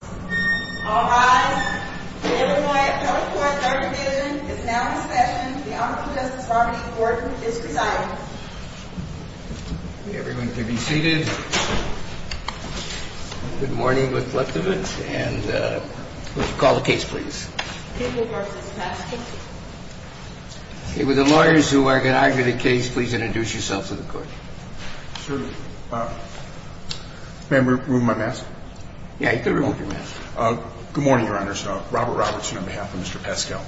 All rise. The Illinois Appellate Court Third Division is now in session. The Honorable Justice Barney Gordon is presiding. Everyone can be seated. Good morning, Mr. Kleptovich. And would you call the case, please? Okay, would the lawyers who are going to argue the case please introduce yourselves to the court? Sure. May I remove my mask? Yeah, you can remove your mask. Good morning, Your Honors. Robert Robertson on behalf of Mr. Paschal.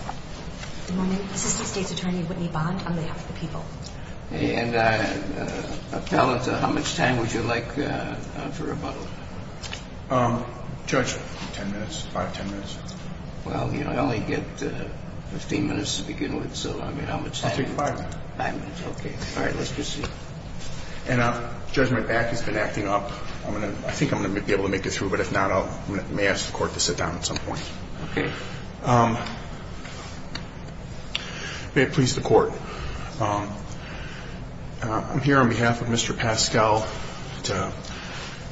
Good morning. Assistant State's Attorney Whitney Bond on behalf of the people. And appellate, how much time would you like for rebuttal? Judge, ten minutes, five, ten minutes. Well, you know, I only get 15 minutes to begin with, so I mean, how much time do you want? I'll take five minutes. Five minutes, okay. All right, let's proceed. And Judge, my back has been acting up. I think I'm going to be able to make it through, but if not, I may ask the court to sit down at some point. Okay. May it please the court, I'm here on behalf of Mr. Paschal to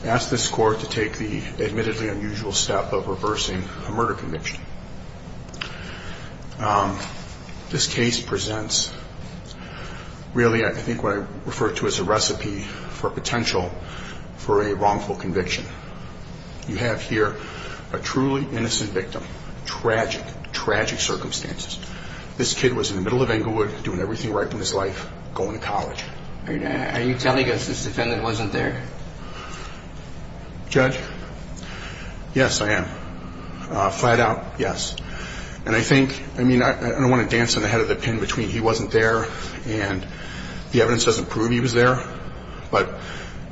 ask this court to take the admittedly unusual step of reversing a murder conviction. This case presents, really, I think what I refer to as a recipe for potential for a wrongful conviction. You have here a truly innocent victim, tragic, tragic circumstances. This kid was in the middle of Englewood, doing everything right in his life, going to college. Are you telling us this defendant wasn't there? Judge? Yes, I am. Flat out, yes. And I think, I mean, I don't want to dance on the head of the pin between he wasn't there and the evidence doesn't prove he was there, but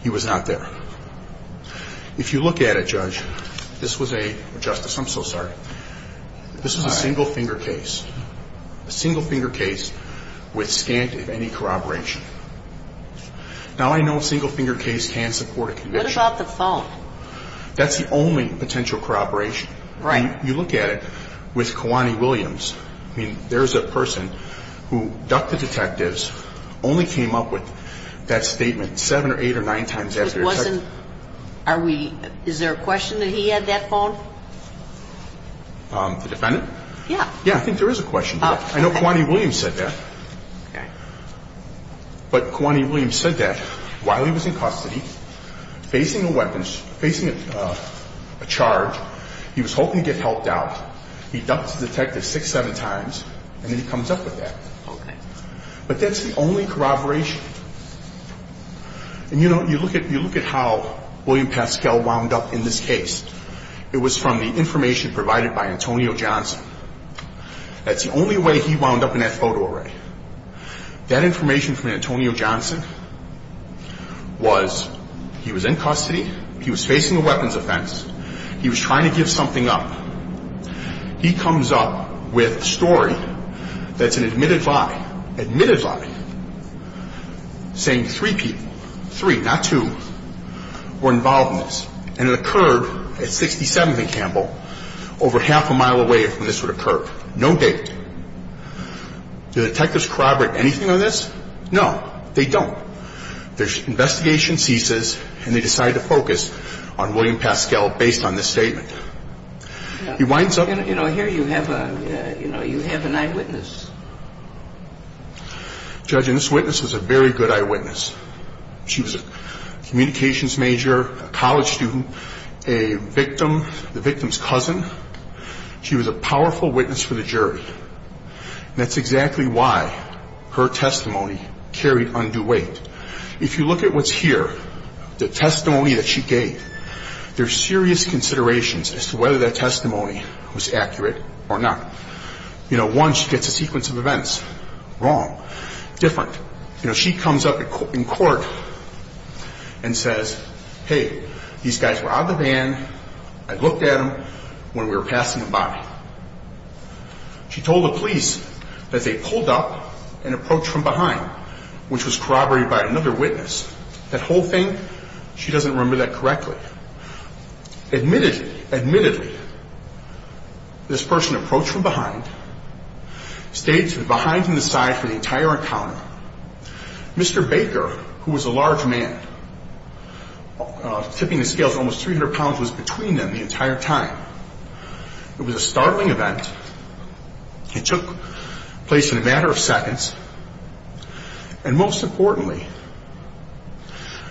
he was not there. If you look at it, Judge, this was a, Justice, I'm so sorry, this was a single-finger case. A single-finger case with scant, if any, corroboration. Now, I know a single-finger case can support a conviction. What about the phone? That's the only potential corroboration. Right. You look at it with Kawani Williams. I mean, there's a person who ducked the detectives, only came up with that statement seven or eight or nine times after they had said it. It wasn't, are we, is there a question that he had that phone? The defendant? Yeah. Yeah, I think there is a question. I know Kawani Williams said that. Okay. But Kawani Williams said that while he was in custody, facing a weapon, facing a charge, he was hoping to get helped out. He ducked the detective six, seven times, and then he comes up with that. Okay. But that's the only corroboration. And, you know, you look at how William Pascal wound up in this case. It was from the information provided by Antonio Johnson. That's the only way he wound up in that photo array. That information from Antonio Johnson was he was in custody, he was facing a weapons offense, he was trying to give something up. He comes up with a story that's an admitted lie, admitted lie, saying three people, three, not two, were involved in this. And it occurred at 67th and Campbell, over half a mile away from this would occur. No date. Do detectives corroborate anything on this? No. They don't. Their investigation ceases, and they decide to focus on William Pascal based on this statement. He winds up. You know, here you have a, you know, you have an eyewitness. Judge, and this witness was a very good eyewitness. She was a communications major, a college student, a victim, the victim's cousin. She was a powerful witness for the jury. That's exactly why her testimony carried undue weight. If you look at what's here, the testimony that she gave, there's serious considerations as to whether that testimony was accurate or not. You know, one, she gets a sequence of events. Wrong. Different. You know, she comes up in court and says, hey, these guys were out of the van. I looked at them when we were passing them by. She told the police that they pulled up and approached from behind, which was corroborated by another witness. That whole thing, she doesn't remember that correctly. Admittedly, admittedly, this person approached from behind, stayed behind to the side for the entire encounter. Mr. Baker, who was a large man, tipping the scales almost 300 pounds, was between them the entire time. It was a startling event. It took place in a matter of seconds. And most importantly,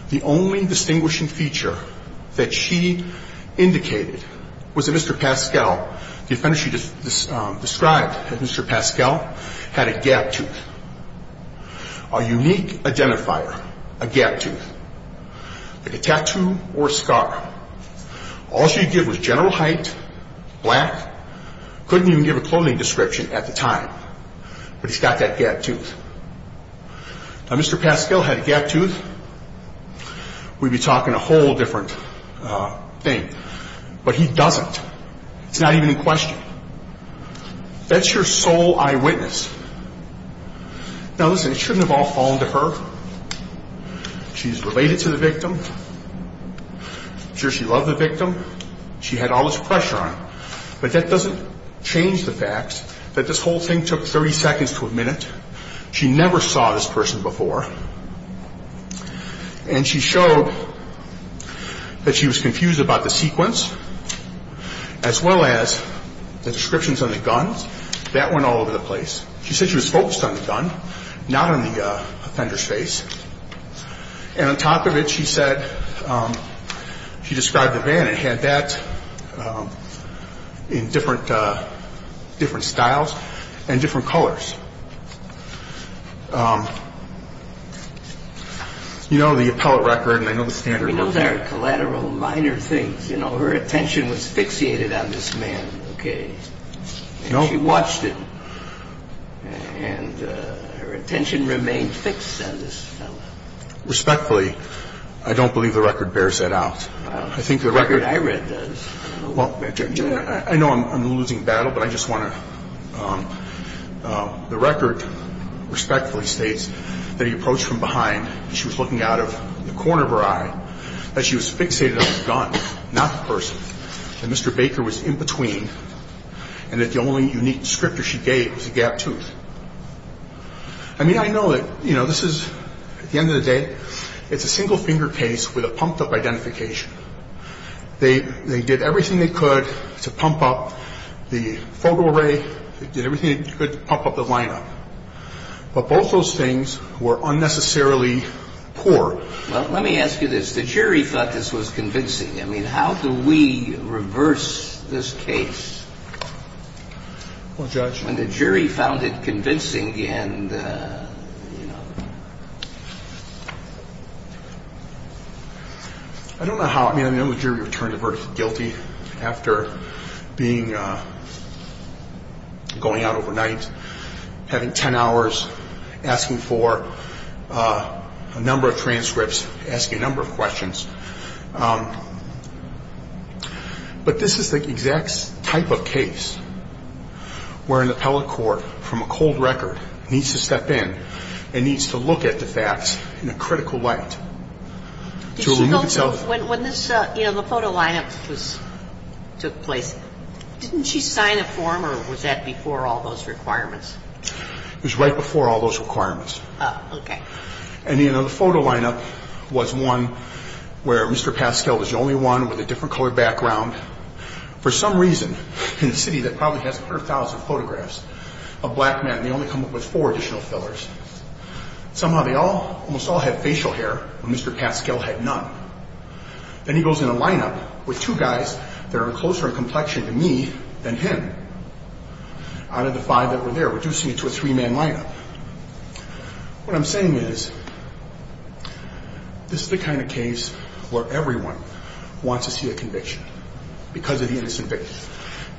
the only distinguishing feature that she indicated was that Mr. Pascal, the offender she described as Mr. Pascal, had a gap tooth, a unique identifier, a gap tooth, like a tattoo or a scar. All she could give was general height, black. Couldn't even give a clothing description at the time, but he's got that gap tooth. Now, Mr. Pascal had a gap tooth. We'd be talking a whole different thing. But he doesn't. It's not even in question. That's your sole eyewitness. Now, listen, it shouldn't have all fallen to her. She's related to the victim. I'm sure she loved the victim. She had all this pressure on her. But that doesn't change the fact that this whole thing took 30 seconds to a minute. She never saw this person before. And she showed that she was confused about the sequence as well as the descriptions on the guns. That went all over the place. She said she was focused on the gun, not on the offender's face. And on top of it, she said she described the van. It had that in different styles and different colors. You know the appellate record, and I know the standards. We know there are collateral minor things. You know, her attention was fixated on this man, okay? And she watched it. And her attention remained fixed on this fellow. Respectfully, I don't believe the record bears that out. The record I read does. Well, I know I'm losing battle, but I just want to – the record respectfully states that he approached from behind and she was looking out of the corner of her eye, that she was fixated on the gun, not the person, that Mr. Baker was in between, and that the only unique descriptor she gave was a gap tooth. I mean, I know that, you know, this is – at the end of the day, it's a single-finger case with a pumped-up identification. They did everything they could to pump up the photo array. They did everything they could to pump up the lineup. But both those things were unnecessarily poor. Well, let me ask you this. The jury thought this was convincing. I mean, how do we reverse this case? Well, Judge. When the jury found it convincing and, you know. I don't know how. I mean, I know the jury returned the verdict guilty after being – going out overnight, having 10 hours, asking for a number of transcripts, asking a number of questions. But this is the exact type of case where an appellate court from a cold record needs to step in and needs to look at the facts in a critical light to remove itself. When this – you know, the photo lineup took place, didn't she sign a form or was that before all those requirements? It was right before all those requirements. Oh, okay. And, you know, the photo lineup was one where Mr. Pascal was the only one with a different color background. For some reason, in a city that probably has 100,000 photographs of black men, they only come up with four additional fillers. Somehow they all – almost all had facial hair and Mr. Pascal had none. Then he goes in a lineup with two guys that are closer in complexion to me than him out of the five that were there, reducing it to a three-man lineup. What I'm saying is this is the kind of case where everyone wants to see a conviction because of the innocent victims.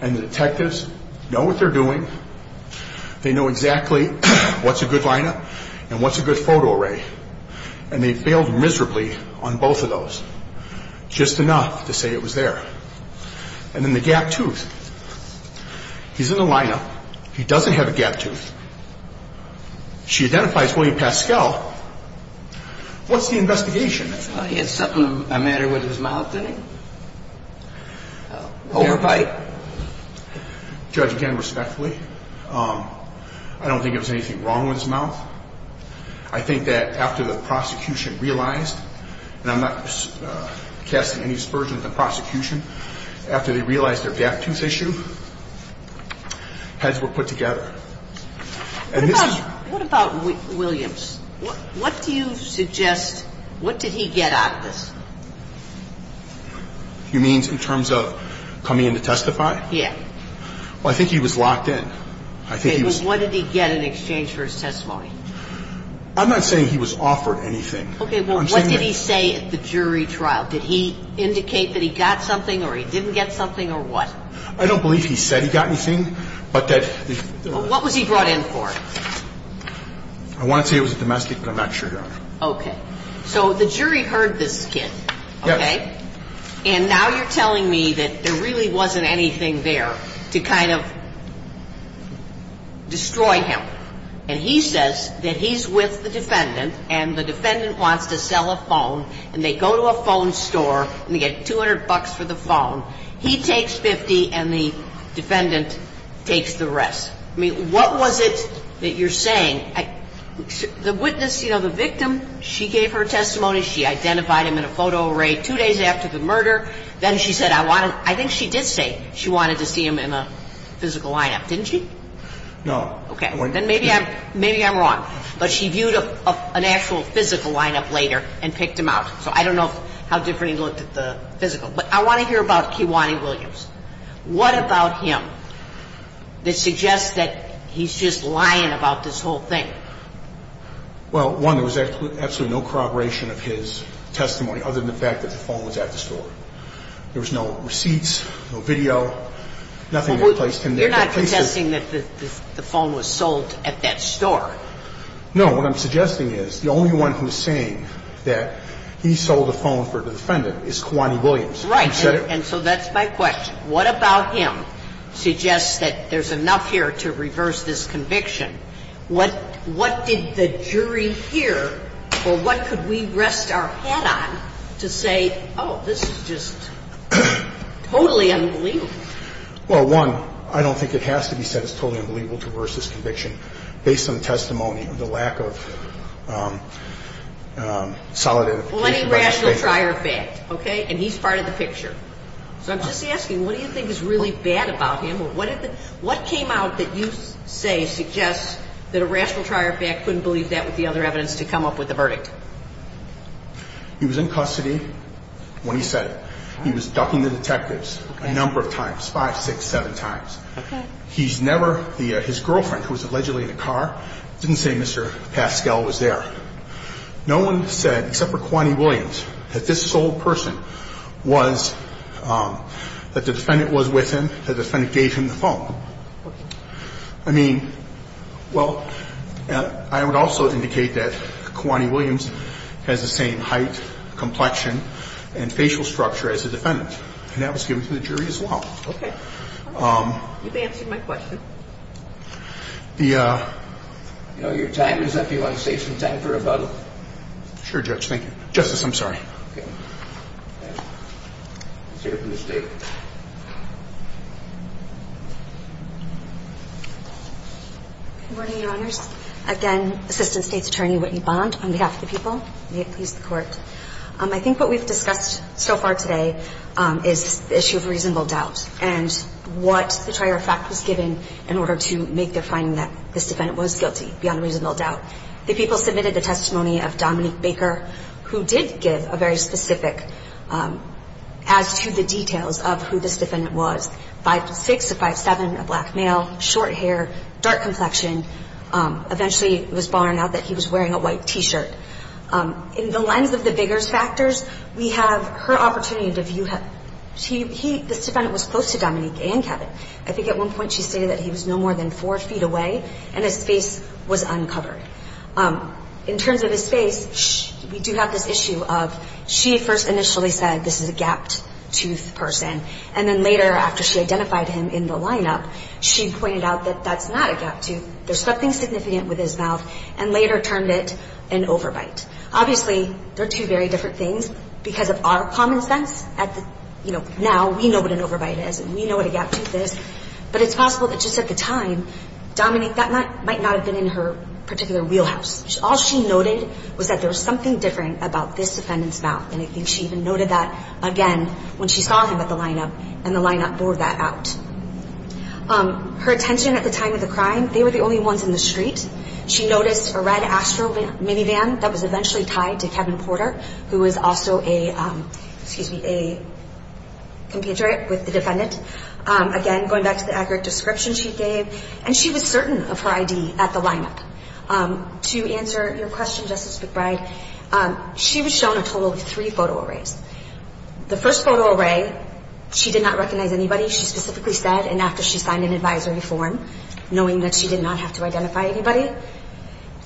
And the detectives know what they're doing. They know exactly what's a good lineup and what's a good photo array. And they bailed miserably on both of those, just enough to say it was there. And then the gap tooth. He's in the lineup. He doesn't have a gap tooth. She identifies William Pascal. What's the investigation? He had something of a matter with his mouth, didn't he? Overbite? I think that after the prosecution realized, and I'm not casting any spurs with the prosecution, after they realized their gap tooth issue, heads were put together. What about Williams? What do you suggest – what did he get out of this? You mean in terms of coming in to testify? Yeah. Well, I think he was locked in. What did he get in exchange for his testimony? I'm not saying he was offered anything. Okay, well, what did he say at the jury trial? Did he indicate that he got something or he didn't get something or what? I don't believe he said he got anything. What was he brought in for? I want to say it was a domestic, but I'm not sure, Your Honor. Okay. So the jury heard this kid, okay? And now you're telling me that there really wasn't anything there to kind of destroy him. And he says that he's with the defendant and the defendant wants to sell a phone and they go to a phone store and they get $200 for the phone. He takes $50 and the defendant takes the rest. I mean, what was it that you're saying? The witness, you know, the victim, she gave her testimony. She identified him in a photo array two days after the murder. Then she said, I think she did say she wanted to see him in a physical lineup, didn't she? No. Okay. Then maybe I'm wrong. But she viewed an actual physical lineup later and picked him out. So I don't know how different he looked at the physical. But I want to hear about Kehwani Williams. What about him that suggests that he's just lying about this whole thing? Well, one, there was absolutely no corroboration of his testimony other than the fact that the phone was at the store. There was no receipts, no video, nothing that placed him there. You're not contesting that the phone was sold at that store? No. What I'm suggesting is the only one who's saying that he sold a phone for the defendant is Kehwani Williams. Right. And so that's my question. What about him suggests that there's enough here to reverse this conviction? What did the jury hear? Or what could we rest our head on to say, oh, this is just totally unbelievable? Well, one, I don't think it has to be said it's totally unbelievable to reverse this conviction based on testimony of the lack of solid evidence. Well, any rational trier of fact, okay? And he's part of the picture. So I'm just asking, what do you think is really bad about him? Well, what came out that you say suggests that a rational trier of fact couldn't believe that with the other evidence to come up with a verdict? He was in custody when he said it. He was ducking the detectives a number of times, five, six, seven times. Okay. He's never the his girlfriend, who was allegedly in a car, didn't say Mr. Pascal was there. No one said, except for Kehwani Williams, that this sold person was, that the defendant was with him, that the defendant gave him the phone. Okay. I mean, well, I would also indicate that Kehwani Williams has the same height, complexion, and facial structure as the defendant, and that was given to the jury as well. Okay. You've answered my question. Your time is up. Do you want to save some time for rebuttal? Sure, Judge. Thank you. Justice, I'm sorry. Okay. Let's hear it from the State. Good morning, Your Honors. Again, Assistant State's Attorney Whitney Bond, on behalf of the people. May it please the Court. I think what we've discussed so far today is the issue of reasonable doubt, and what the trier of fact was given in order to make the finding that this defendant was guilty, beyond reasonable doubt. The people submitted the testimony of Dominique Baker, who did give a very specific as to the details of who this defendant was, 5'6", a 5'7", a black male, short hair, dark complexion, eventually it was borne out that he was wearing a white T-shirt. In the lens of the Biggers factors, we have her opportunity to view him. This defendant was close to Dominique and Kevin. I think at one point she stated that he was no more than four feet away, and his face was uncovered. In terms of his face, we do have this issue of she first initially said this is a gapped tooth person, and then later after she identified him in the lineup, she pointed out that that's not a gapped tooth. There's something significant with his mouth, and later termed it an overbite. Obviously, they're two very different things because of our common sense. Now, we know what an overbite is, and we know what a gapped tooth is, but it's possible that just at the time, Dominique, that might not have been in her particular wheelhouse. All she noted was that there was something different about this defendant's mouth, and I think she even noted that again when she saw him at the lineup, and the lineup bore that out. Her attention at the time of the crime, they were the only ones in the street. She noticed a red Astro minivan that was eventually tied to Kevin Porter, who was also a, excuse me, a compatriot with the defendant. Again, going back to the accurate description she gave, and she was certain of her ID at the lineup. To answer your question, Justice McBride, she was shown a total of three photo arrays. The first photo array, she did not recognize anybody. She specifically said, and after she signed an advisory form, knowing that she did not have to identify anybody,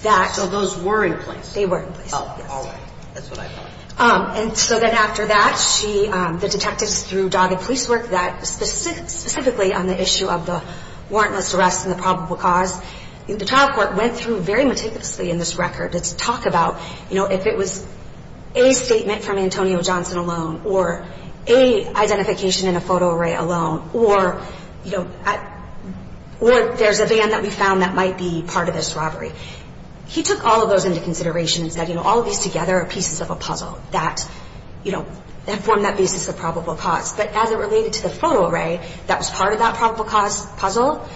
that. So those were in place. They were in place. Oh, all right. That's what I thought. And so then after that, she, the detectives through dogged police work, that specifically on the issue of the warrantless arrest and the probable cause, the trial court went through very meticulously in this record to talk about, you know, if it was a statement from Antonio Johnson alone or a identification in a photo array alone, or, you know, or there's a van that we found that might be part of this robbery. He took all of those into consideration and said, you know, all of these together are pieces of a puzzle that, you know, form that basis of probable cause. But as it related to the photo array that was part of that probable cause puzzle,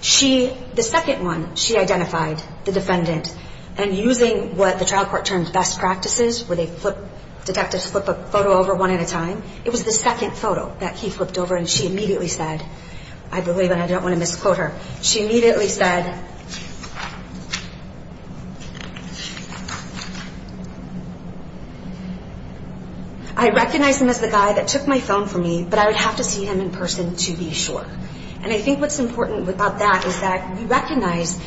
she, the second one, she identified the defendant, and using what the trial court termed best practices, where they flip, detectives flip a photo over one at a time, it was the second photo that he flipped over, and she immediately said, I believe, and I don't want to misquote her, she immediately said, I recognize him as the guy that took my phone from me, but I would have to see him in person to be sure. And I think what's important about that is that we recognize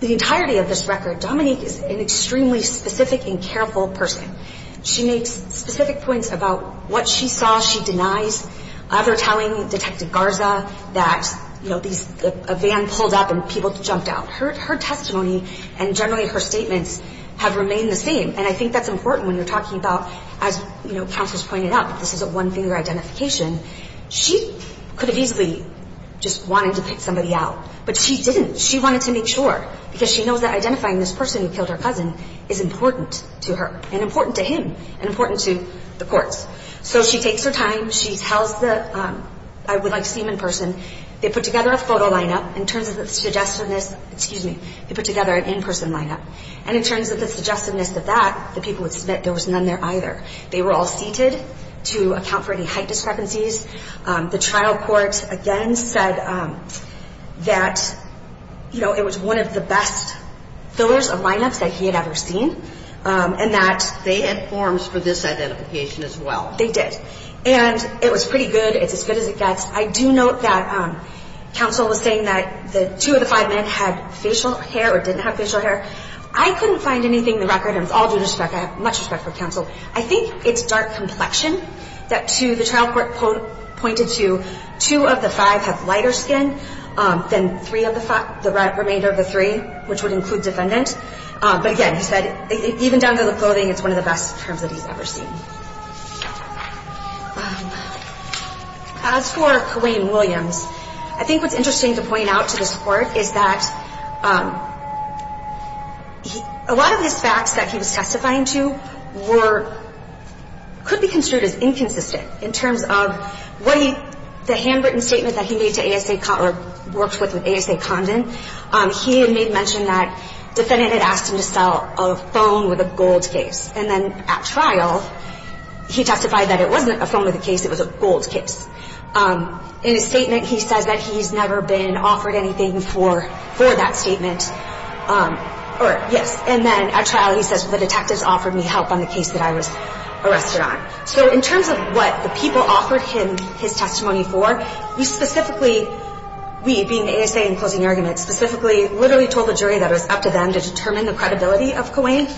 the entirety of this record. Dominique is an extremely specific and careful person. She makes specific points about what she saw she denies, either telling Detective Garza that, you know, a van pulled up and people jumped out. Her testimony and generally her statements have remained the same, and I think that's important when you're talking about, as, you know, counsels pointed out, this is a one-finger identification. She could have easily just wanted to pick somebody out, but she didn't. She wanted to make sure because she knows that identifying this person who killed her cousin is important to her and important to him and important to the courts. So she takes her time. She tells the, I would like to see him in person. They put together a photo lineup. In terms of the suggestiveness, excuse me, they put together an in-person lineup, and in terms of the suggestiveness of that, the people would submit there was none there either. They were all seated to account for any height discrepancies. The trial court, again, said that, you know, it was one of the best fillers of lineups that he had ever seen and that they had forms for this identification as well. They did, and it was pretty good. It's as good as it gets. I do note that counsel was saying that the two of the five men had facial hair or didn't have facial hair. I couldn't find anything in the record. It was all due to respect. I have much respect for counsel. I think it's dark complexion that to the trial court pointed to, two of the five have lighter skin than three of the five, the remainder of the three, which would include defendant. But again, he said, even down to the clothing, it's one of the best terms that he's ever seen. As for Colleen Williams, I think what's interesting to point out to this court is that a lot of these facts that he was testifying to were – could be construed as inconsistent in terms of what he – the handwritten statement that he made to ASA – or worked with with ASA Condon, he had made mention that defendant had asked him to sell a phone with a gold case. And then at trial, he testified that it wasn't a phone with a case. It was a gold case. In his statement, he says that he's never been offered anything for that statement. Yes. And then at trial, he says, the detectives offered me help on the case that I was arrested on. So in terms of what the people offered him his testimony for, we specifically – we being ASA in closing arguments – specifically literally told the jury that it was up to them to determine the credibility of Colleen.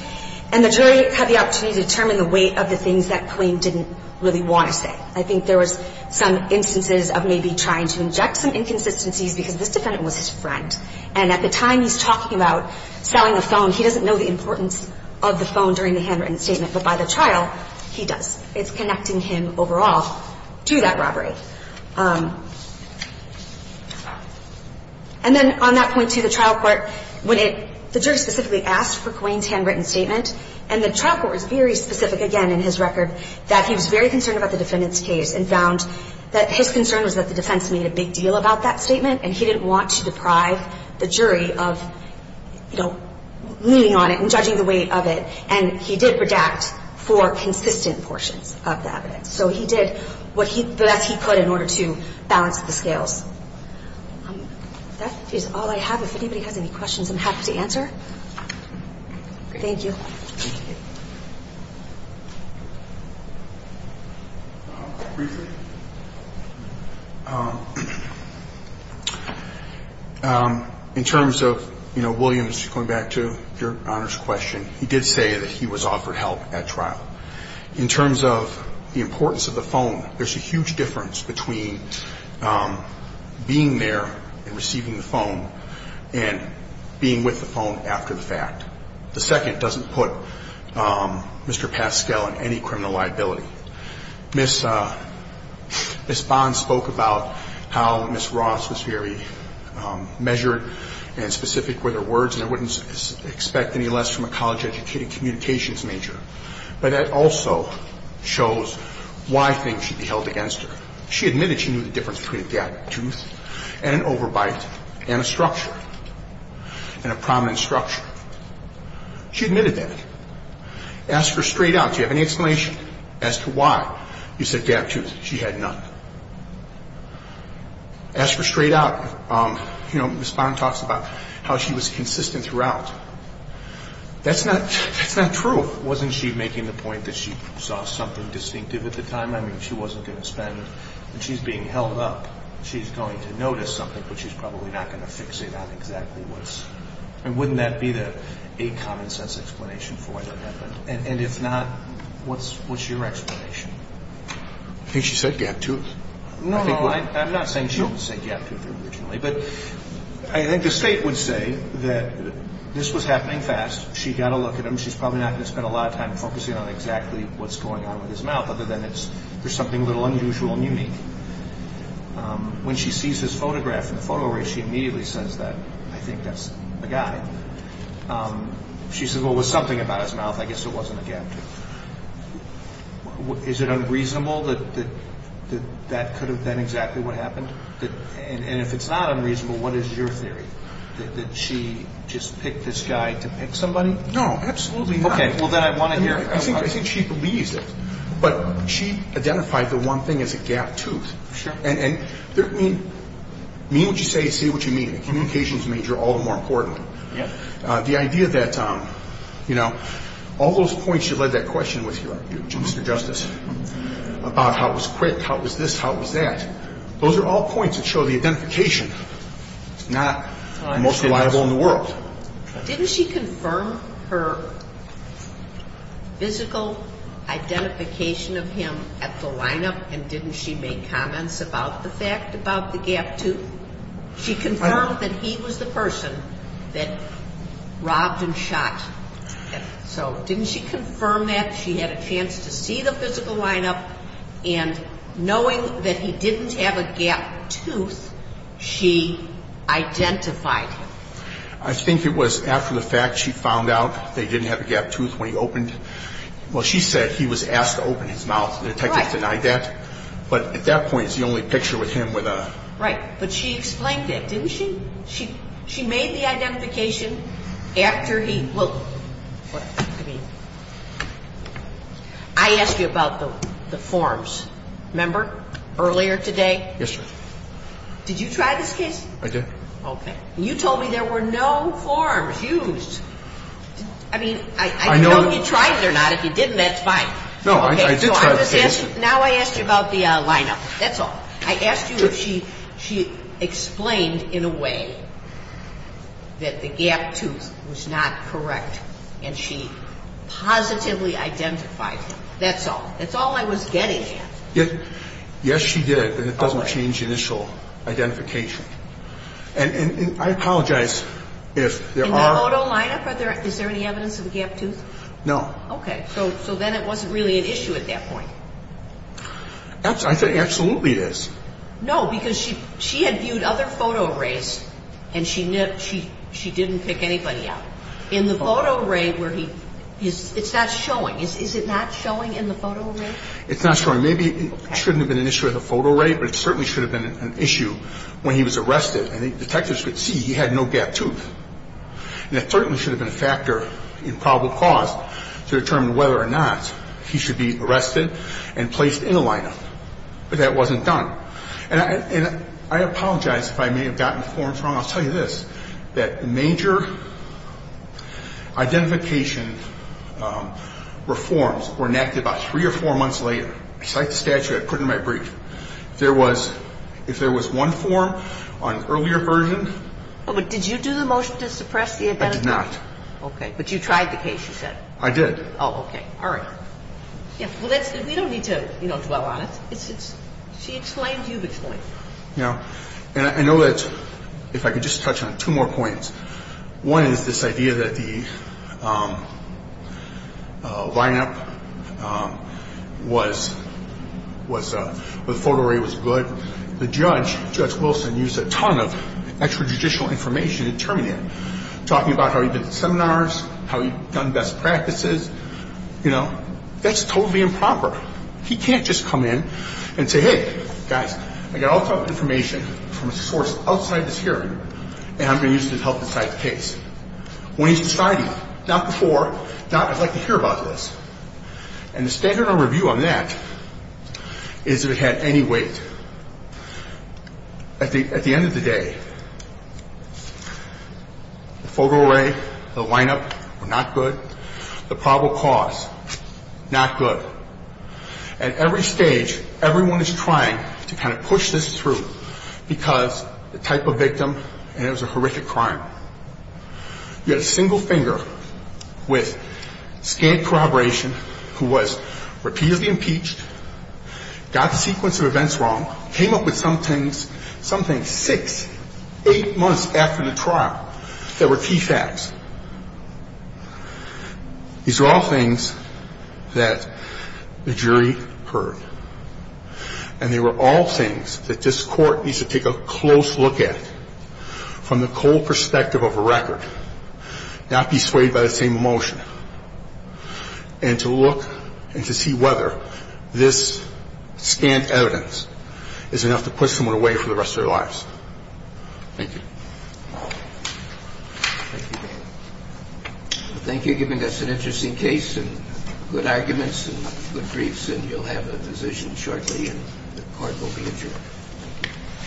And the jury had the opportunity to determine the weight of the things that Colleen didn't really want to say. I think there was some instances of maybe trying to inject some inconsistencies because this defendant was his friend. And at the time he's talking about selling a phone, he doesn't know the importance of the phone during the handwritten statement. But by the trial, he does. It's connecting him overall to that robbery. And then on that point, too, the trial court – when it – the jury specifically asked for Colleen's handwritten statement. And the trial court was very specific, again, in his record, that he was very concerned about the defendant's case and found that his concern was that the defense made a big deal about that statement and he didn't want to deprive the jury of leaning on it and judging the weight of it. And he did redact four consistent portions of the evidence. So he did the best he could in order to balance the scales. That is all I have. If anybody has any questions, I'm happy to answer. Thank you. Briefly. In terms of, you know, Williams, going back to your Honor's question, he did say that he was offered help at trial. In terms of the importance of the phone, there's a huge difference between being there and receiving the phone and being with the phone after the fact. And in terms of the other points that I've made, there's a huge difference between being there and being there. And there's a huge difference between being there and receiving the phone. The second doesn't put Mr. Paschle in any criminal liability. She admitted that. Asked her straight out, do you have any explanation as to why? He said, to be honest, she had none. Asked her straight out, you know, Ms. Bond talks about how she was consistent throughout. That's not true. Wasn't she making the point that she saw something distinctive at the time? I mean, she wasn't going to spend, and she's being held up. She's going to notice something, but she's probably not going to fix it on exactly what's... I mean, wouldn't that be a common sense explanation for why that happened? And if not, what's your explanation? I think she said gap tooth. No, no, I'm not saying she didn't say gap tooth originally. But I think the State would say that this was happening fast. She got a look at him. She's probably not going to spend a lot of time focusing on exactly what's going on with his mouth, other than there's something a little unusual and unique. When she sees his photograph in the photo array, she immediately says that, I think that's the guy. She says, well, there was something about his mouth. I guess it wasn't a gap tooth. Is it unreasonable that that could have been exactly what happened? And if it's not unreasonable, what is your theory? Did she just pick this guy to pick somebody? No, absolutely not. Okay, well, then I want to hear it. I think she believes it. But she identified the one thing as a gap tooth. Sure. And, I mean, mean what you say, say what you mean. A communications major, all the more important. Yeah. The idea that, you know, all those points she led that question with you, Mr. Justice, about how it was quick, how it was this, how it was that, those are all points that show the identification is not the most reliable in the world. Didn't she confirm her physical identification of him at the lineup and didn't she make comments about the fact about the gap tooth? She confirmed that he was the person that robbed and shot. So didn't she confirm that she had a chance to see the physical lineup and knowing that he didn't have a gap tooth, she identified him? I think it was after the fact she found out they didn't have a gap tooth when he opened. Well, she said he was asked to open his mouth. The detective denied that. But at that point, it's the only picture with him with a... Right. But she explained that, didn't she? She made the identification after he... I asked you about the forms, remember, earlier today? Yes, sir. Did you try this case? I did. Okay. You told me there were no forms used. I mean, I don't know if you tried it or not. If you didn't, that's fine. No, I did try the case. Now I asked you about the lineup. That's all. I asked you if she explained in a way that the gap tooth was not correct and she positively identified him. That's all. That's all I was getting at. Yes, she did. And it doesn't change initial identification. And I apologize if there are... In the photo lineup, is there any evidence of a gap tooth? No. Okay. So then it wasn't really an issue at that point. I said absolutely it is. No, because she had viewed other photo arrays and she didn't pick anybody out. In the photo array where he... It's not showing. Is it not showing in the photo array? It's not showing. Maybe it shouldn't have been an issue in the photo array, but it certainly should have been an issue when he was arrested. And the detectives could see he had no gap tooth. And it certainly should have been a factor in probable cause to determine whether or not he should be arrested and placed in the lineup. But that wasn't done. And I apologize if I may have gotten the forms wrong. I'll tell you this. That major identification reforms were enacted about three or four months later. Besides the statute I put in my brief. If there was one form on an earlier version... But did you do the motion to suppress the... I did not. Okay. But you tried the case, you said. I did. Oh, okay. All right. We don't need to dwell on it. She explained. You've explained. And I know that if I could just touch on two more points. One is this idea that the lineup was... The photo array was good. The judge, Judge Wilson, used a ton of extrajudicial information to determine it. Talking about how he did seminars, how he done best practices. You know, that's totally improper. He can't just come in and say... Hey, guys, I got all this information from a source outside this hearing. And I'm going to use it to help decide the case. When he's deciding... Not before. Not, I'd like to hear about this. And the standard of review on that is that it had any weight. At the end of the day... The photo array, the lineup were not good. The probable cause, not good. At every stage, everyone is trying to kind of push this through. Because the type of victim... And it was a horrific crime. You had a single finger with scant corroboration. Who was repeatedly impeached. Got the sequence of events wrong. Came up with some things... Six, eight months after the trial. That were key facts. These are all things that the jury heard. And they were all things that this Court needs to take a close look at. From the cold perspective of a record. Not be swayed by the same emotion. And to look and to see whether this scant evidence... Is enough to push someone away for the rest of their lives. Thank you. Thank you, Judge. Thank you for giving us an interesting case. And good arguments and good briefs. And you'll have a decision shortly. And the Court will be adjourned.